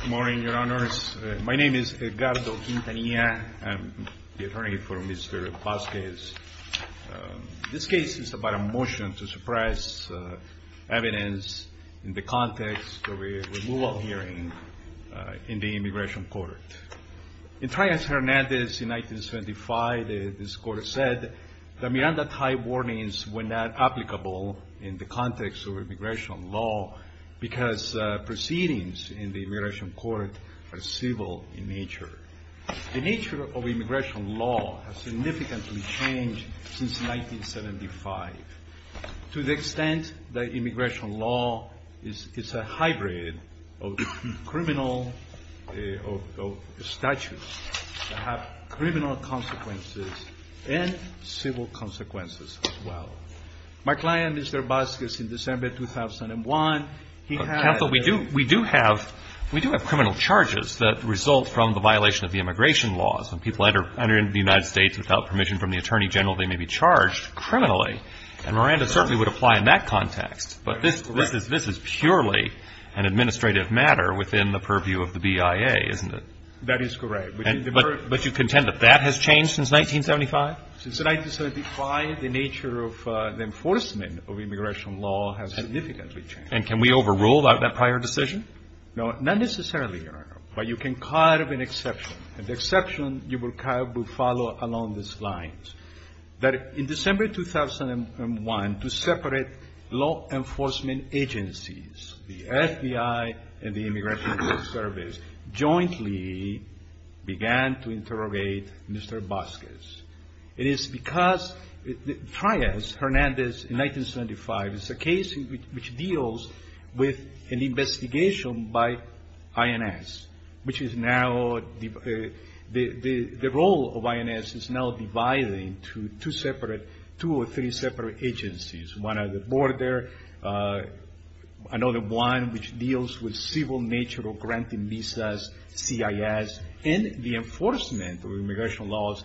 Good morning, Your Honors. My name is Edgardo Quintanilla. I'm the attorney for Mr. Vasquez. This case is about a motion to suppress evidence in the context of a removal hearing in the Immigration Court. In Trias-Hernandez in 1975, this court said that Miranda Tithe warnings were not applicable in the context of immigration law because proceedings in the Immigration Court are civil in nature. The nature of immigration law has significantly changed since 1975 to the extent that immigration law is a hybrid of criminal statutes that have criminal consequences and civil consequences as well. My client, Mr. Vasquez, in December 2001, he had a MR. BASQUEZ-TRUJILLO Counsel, we do have criminal charges that result from the violation of the immigration laws. When people enter the United States without permission from the Attorney General, they may be charged criminally. And Miranda certainly would apply in that context. But this is purely an administrative matter within the purview of the BIA, isn't it? That is correct. But you contend that that has changed since 1975? Since 1975, the nature of the enforcement of immigration law has significantly changed. And can we overrule that prior decision? No, not necessarily, Your Honor. But you can carve an exception. And the exception you will carve will follow along this line, that in December 2001, to separate law enforcement agencies, the FBI and the Immigration Service, jointly began to interrogate Mr. Vasquez. It is because Trias Hernandez in 1975, it's a case which deals with an investigation by INS, which is now the role of INS is now dividing two separate, two or three another one, which deals with civil nature of granting visas, CIS, and the enforcement of immigration laws,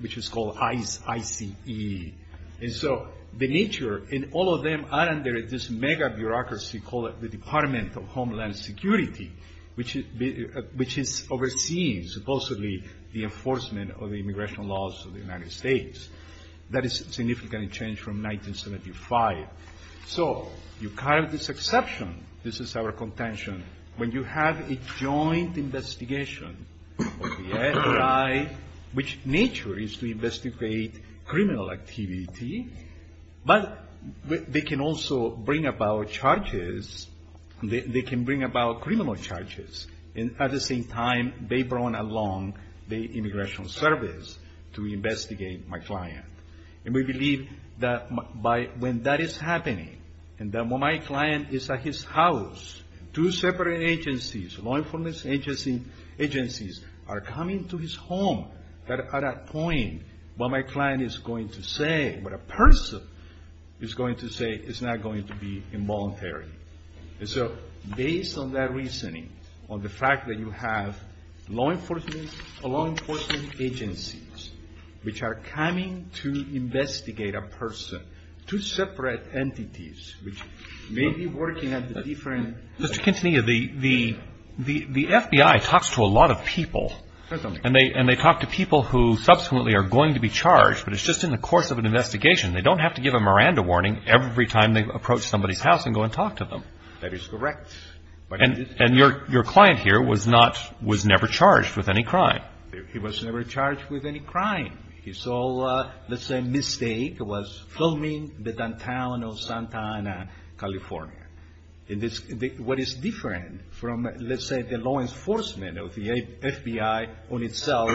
which is called ICE, I-C-E. And so the nature, and all of them are under this mega-bureaucracy called the Department of Homeland Security, which is overseeing, supposedly, the enforcement of the immigration laws of the United States. That has significantly changed from 1975. So, you carve this exception, this is our contention, when you have a joint investigation of the FBI, which in nature is to investigate criminal activity, but they can also bring about charges, they can bring about criminal charges. And at the same time, they And that is happening. And then when my client is at his house, two separate agencies, law enforcement agencies, are coming to his home, at that point, what my client is going to say, what a person is going to say, is not going to be involuntary. And so, based on that separate entities, which may be working at the different Mr. Quintanilla, the FBI talks to a lot of people, and they talk to people who subsequently are going to be charged, but it's just in the course of an investigation. They don't have to give a Miranda warning every time they approach somebody's house and go and talk to them. That is correct. And your client here was not, was never charged with any crime. He saw, let's say, a mistake, was filming the downtown of Santa Ana, California. What is different from, let's say, the law enforcement of the FBI on itself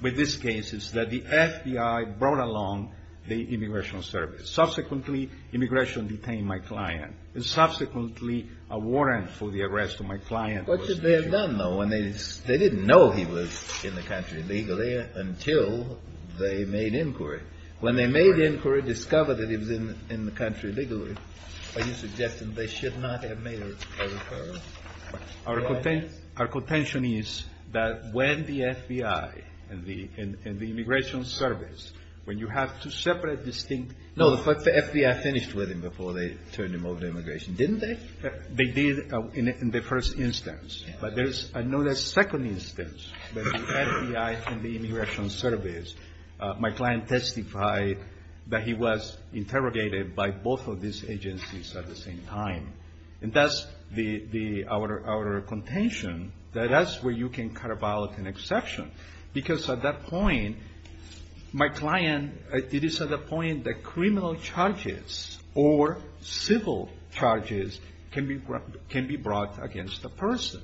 with this case is that the FBI brought along the Immigration Service. Subsequently, immigration detained my client. And subsequently, a warrant for the arrest of my client was issued. They didn't know he was in the country legally until they made inquiry. When they made inquiry, discovered that he was in the country legally, are you suggesting they should not have made a referral? Our contention is that when the FBI and the Immigration Service, when you have two separate, distinct No, but the FBI finished with him before they turned him over to immigration, didn't they? They did in the first instance. But there's another second instance that the FBI and the Immigration Service, my client testified that he was interrogated by both of these agencies at the same time. And that's the, our contention, that that's where you can cut a ballot and exception. Because at that point, my client, it is at that point that criminal charges or civil charges can be brought against the person.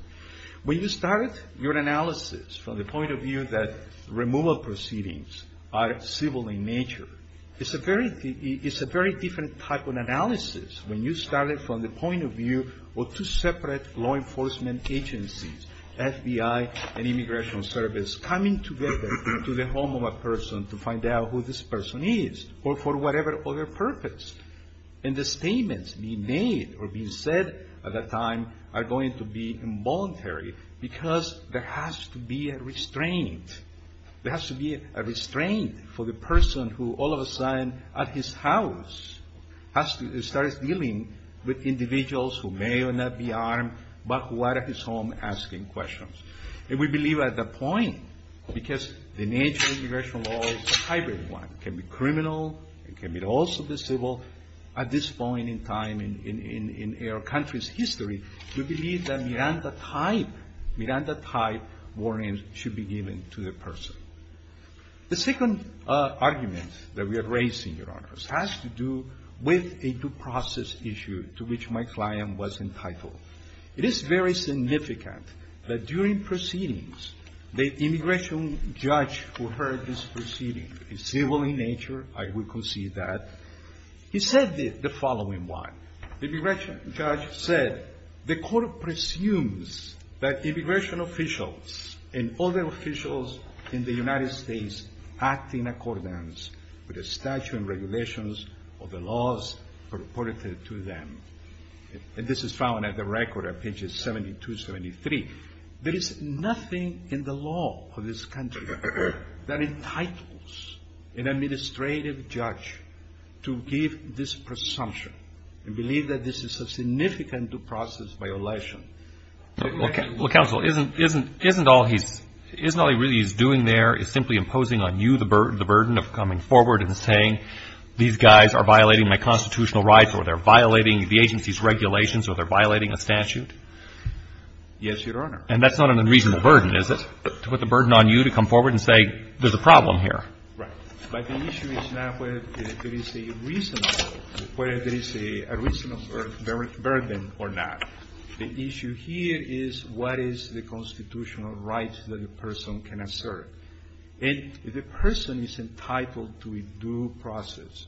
When you started your analysis from the point of view that removal proceedings are civil in nature, it's a very different type of analysis when you started from the point of view or two separate law enforcement agencies, FBI and Immigration Service, coming together to the home of a person to find out who this person is or for whatever other purpose. And the statements being made or being said at that time are going to be involuntary because there has to be a restraint. There has to be a restraint for the person who all of a sudden, at his house, has to start dealing with individuals who may or may not be armed, but who are at his home asking questions. And we believe at that point, because the nature of immigration law is a hybrid one. It can be criminal. It can also be civil. At this point in time in our country's history, we believe that Miranda-type, Miranda-type warnings should be given to the person. The second argument that we have raised, Your Honors, has to do with a due process issue to which my client was entitled. It is very significant that during proceedings, the immigration judge who heard this proceeding is civil in nature. I would concede that. He said the following one. The immigration judge said, the court presumes that immigration officials and other officials in the United States act in accordance with the statute and regulations of the laws purported to them. And this is found at the record of pages 72, 73. There is nothing in the law of this country that entitles an administrative judge to give this presumption and believe that this is a significant due process violation. Well, counsel, isn't all he's doing there is simply imposing on you the burden of coming forward and saying these guys are violating my constitutional rights or they're violating the agency's regulations or they're violating a statute? Yes, Your Honor. And that's not an unreasonable burden, is it, to put the burden on you to come forward and say there's a problem here? Right. But the issue is not whether there is a reasonable, whether there is a reasonable burden or not. The issue here is what is the constitutional rights that a person can assert. And if the person is entitled to a due process,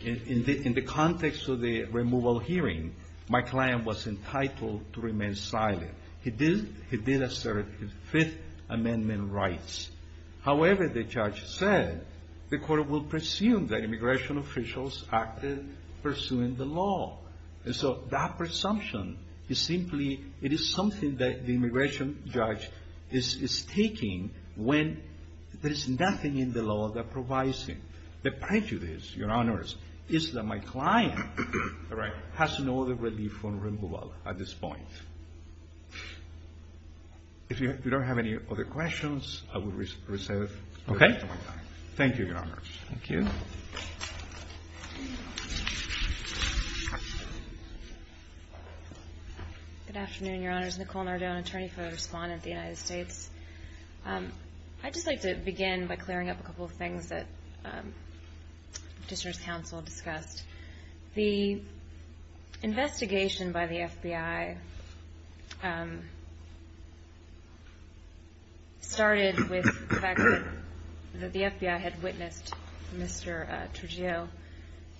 in the context of the removal hearing, my client was entitled to remain silent. He did assert his Fifth Amendment rights. However, the judge said the court will presume that immigration officials acted pursuing the law. And so that presumption is simply, it is something that the immigration judge is taking when there is nothing in the law that provides him. The prejudice, Your Honors, is that my client has no other relief from removal at this point. If you don't have any other questions, I will reserve the rest of my time. Okay. Thank you, Your Honors. Thank you. Good afternoon, Your Honors. Nicole Nardone, attorney for the Respondent of the United States. I'd just like to begin by clearing up a couple of things that the petitioner's counsel discussed. The investigation by the FBI started with the fact that the FBI had witnessed Mr. Trujillo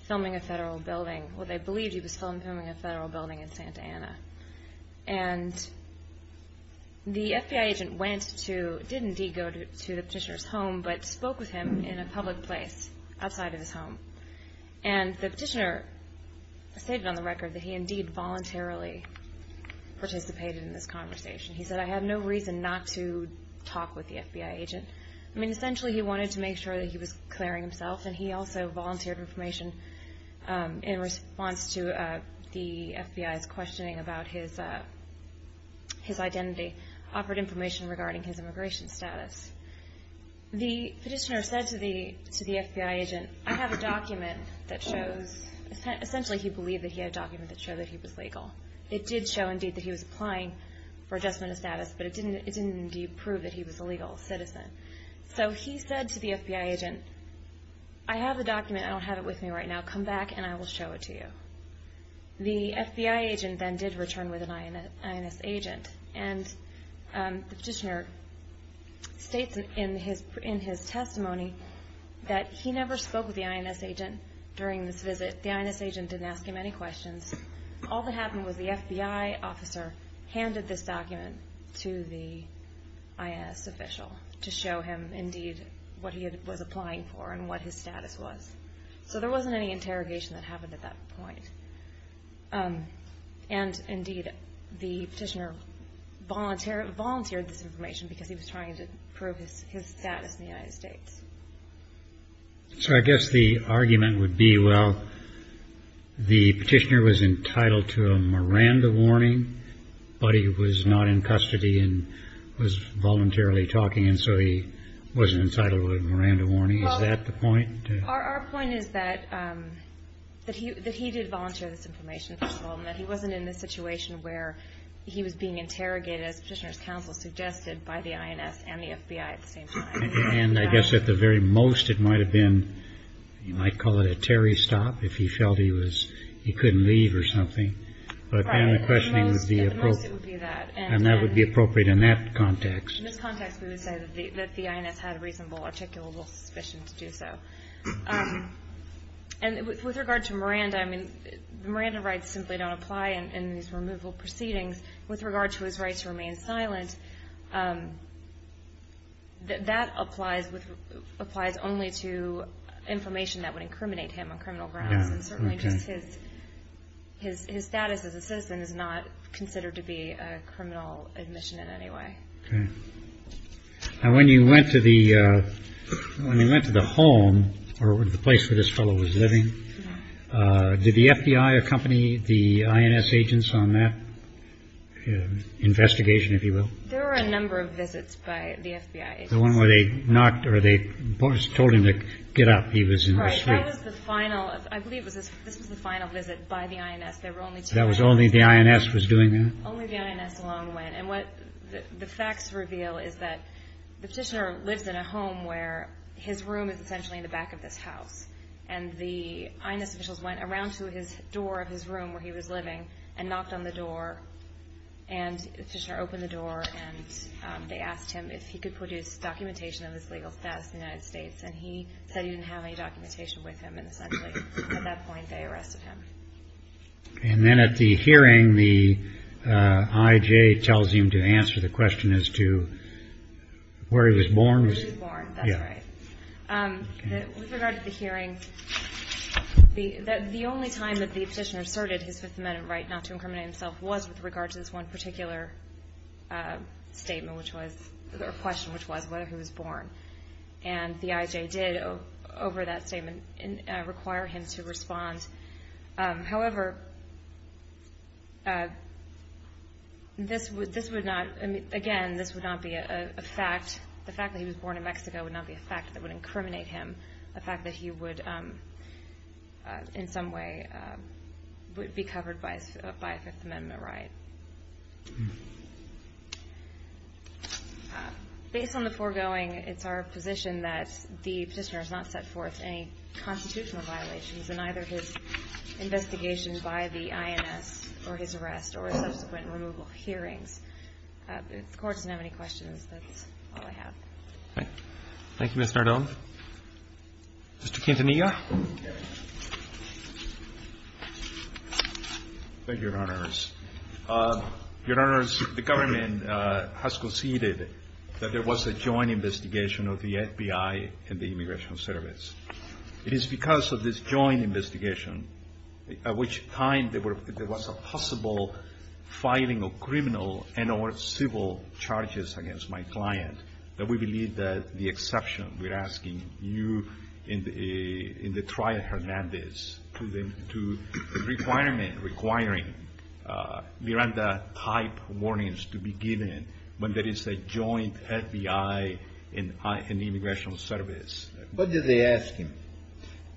filming a federal building. And the FBI agent went to, did indeed go to the petitioner's home, but spoke with him in a public place outside of his home. And the petitioner stated on the record that he indeed voluntarily participated in this conversation. He said, I have no reason not to talk with the FBI agent. I mean, essentially he wanted to make sure that he was clearing himself, and he also volunteered information in response to the FBI's questioning about his identity, offered information regarding his immigration status. The petitioner said to the FBI agent, I have a document that shows, essentially he believed that he had a document that showed that he was legal. It did show indeed that he was applying for adjustment of status, but it didn't indeed prove that he was a legal citizen. So he said to the FBI agent, I have the document, I don't have it with me right now. Come back and I will show it to you. The FBI agent then did return with an INS agent. And the petitioner states in his testimony that he never spoke with the INS agent during this visit. The INS agent didn't ask him any questions. All that happened was the FBI officer handed this document to the INS official to show him indeed what he was applying for and what his status was. So there wasn't any interrogation that happened at that point. And indeed, the petitioner volunteered this information because he was trying to prove his status in the United States. So I guess the argument would be, well, the petitioner was entitled to a Miranda warning, but he was not in custody and was voluntarily talking, and so he wasn't entitled to a Miranda warning. Is that the point? Our point is that he did volunteer this information, first of all, and that he wasn't in the situation where he was being interrogated, as Petitioner's counsel suggested, by the INS and the FBI at the same time. And I guess at the very most, it might have been, you might call it a Terry stop, if he felt he couldn't leave or something. Right. But then the questioning would be appropriate. At the most, it would be that. And that would be appropriate in that context. In this context, we would say that the INS had reasonable, articulable suspicion to do so. And with regard to Miranda, I mean, the Miranda rights simply don't apply in these removal proceedings. With regard to his right to remain silent, that applies only to information that would incriminate him on criminal grounds. And certainly just his status as a citizen is not considered to be a criminal admission in any way. Okay. And when you went to the when you went to the home or the place where this fellow was living, did the FBI accompany the INS agents on that investigation, if you will? There were a number of visits by the FBI. The one where they knocked or they told him to get up. He was in the final. I believe this was the final visit by the INS. That was only the INS was doing that. Only the INS alone went. And what the facts reveal is that the petitioner lives in a home where his room is essentially in the back of this house. And the INS officials went around to his door of his room where he was living and knocked on the door. And the petitioner opened the door and they asked him if he could produce documentation of his legal status in the United States. And he said he didn't have any documentation with him. And essentially at that point they arrested him. And then at the hearing, the IJ tells him to answer the question as to where he was born. With regard to the hearing, the only time that the petitioner asserted his Fifth Amendment right not to incriminate himself was with regard to this one particular statement, which was a question, which was whether he was born. And the IJ did, over that statement, require him to respond. However, this would not, again, this would not be a fact. The fact that he was born in Mexico would not be a fact that would incriminate him. A fact that he would in some way be covered by a Fifth Amendment right. Based on the foregoing, it's our position that the petitioner has not set forth any constitutional violations in either his investigation by the INS or his arrest or subsequent removal of hearings. If the Court doesn't have any questions, that's all I have. Thank you, Ms. Nardone. Mr. Quintanilla. Thank you, Your Honors. Your Honors, the government has conceded that there was a joint investigation of the FBI and the Immigration Service. It is because of this joint investigation, at which time there was a possible filing of criminal and or civil charges against my client, that we believe that the exception we're asking you in the trial, Hernandez, to the requirement requiring Miranda-type warnings to be given when there is a joint FBI and the Immigration Service. What did they ask him?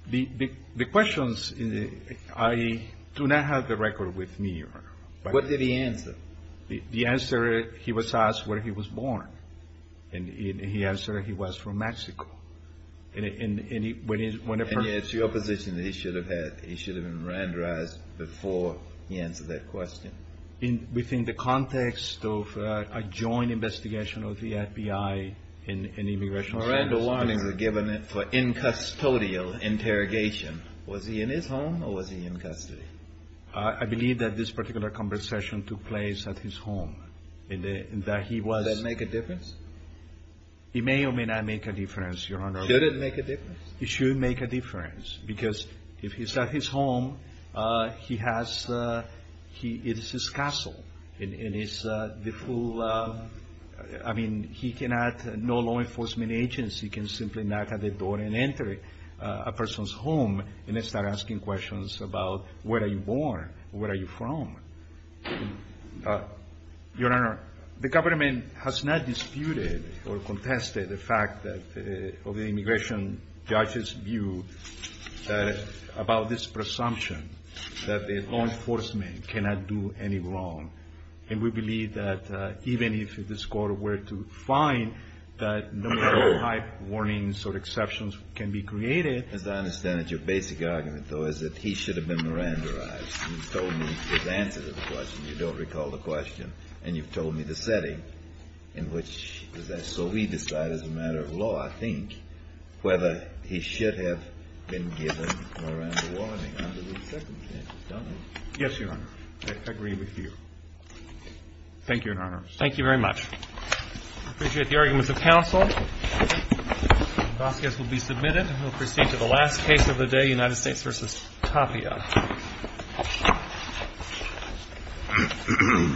The questions, I do not have the record with me, Your Honor. What did he answer? The answer, he was asked where he was born. And he answered he was from Mexico. And it's your position that he should have been Miranda-ized before he answered that question? Within the context of a joint investigation of the FBI and the Immigration Service. Miranda-ized. For incustodial interrogation. Was he in his home or was he in custody? I believe that this particular conversation took place at his home. Did that make a difference? It may or may not make a difference, Your Honor. Should it make a difference? It should make a difference. Because if he's at his home, it is his castle. And it's the full, I mean, he cannot, no law enforcement agency can simply knock at the door and enter a person's home and start asking questions about where are you born? Where are you from? Your Honor, the government has not disputed or contested the fact of the immigration judge's view about this presumption that law enforcement cannot do any wrong. And we believe that even if this Court were to find that no other type of warnings or exceptions can be created. As I understand it, your basic argument, though, is that he should have been Miranda-ized. You've told me his answer to the question. You don't recall the question. And you've told me the setting in which he was asked. Yes, Your Honor. I agree with you. Thank you, Your Honor. Thank you very much. I appreciate the arguments of counsel. The last case will be submitted. We'll proceed to the last case of the day, United States v. Tapia. Thank you.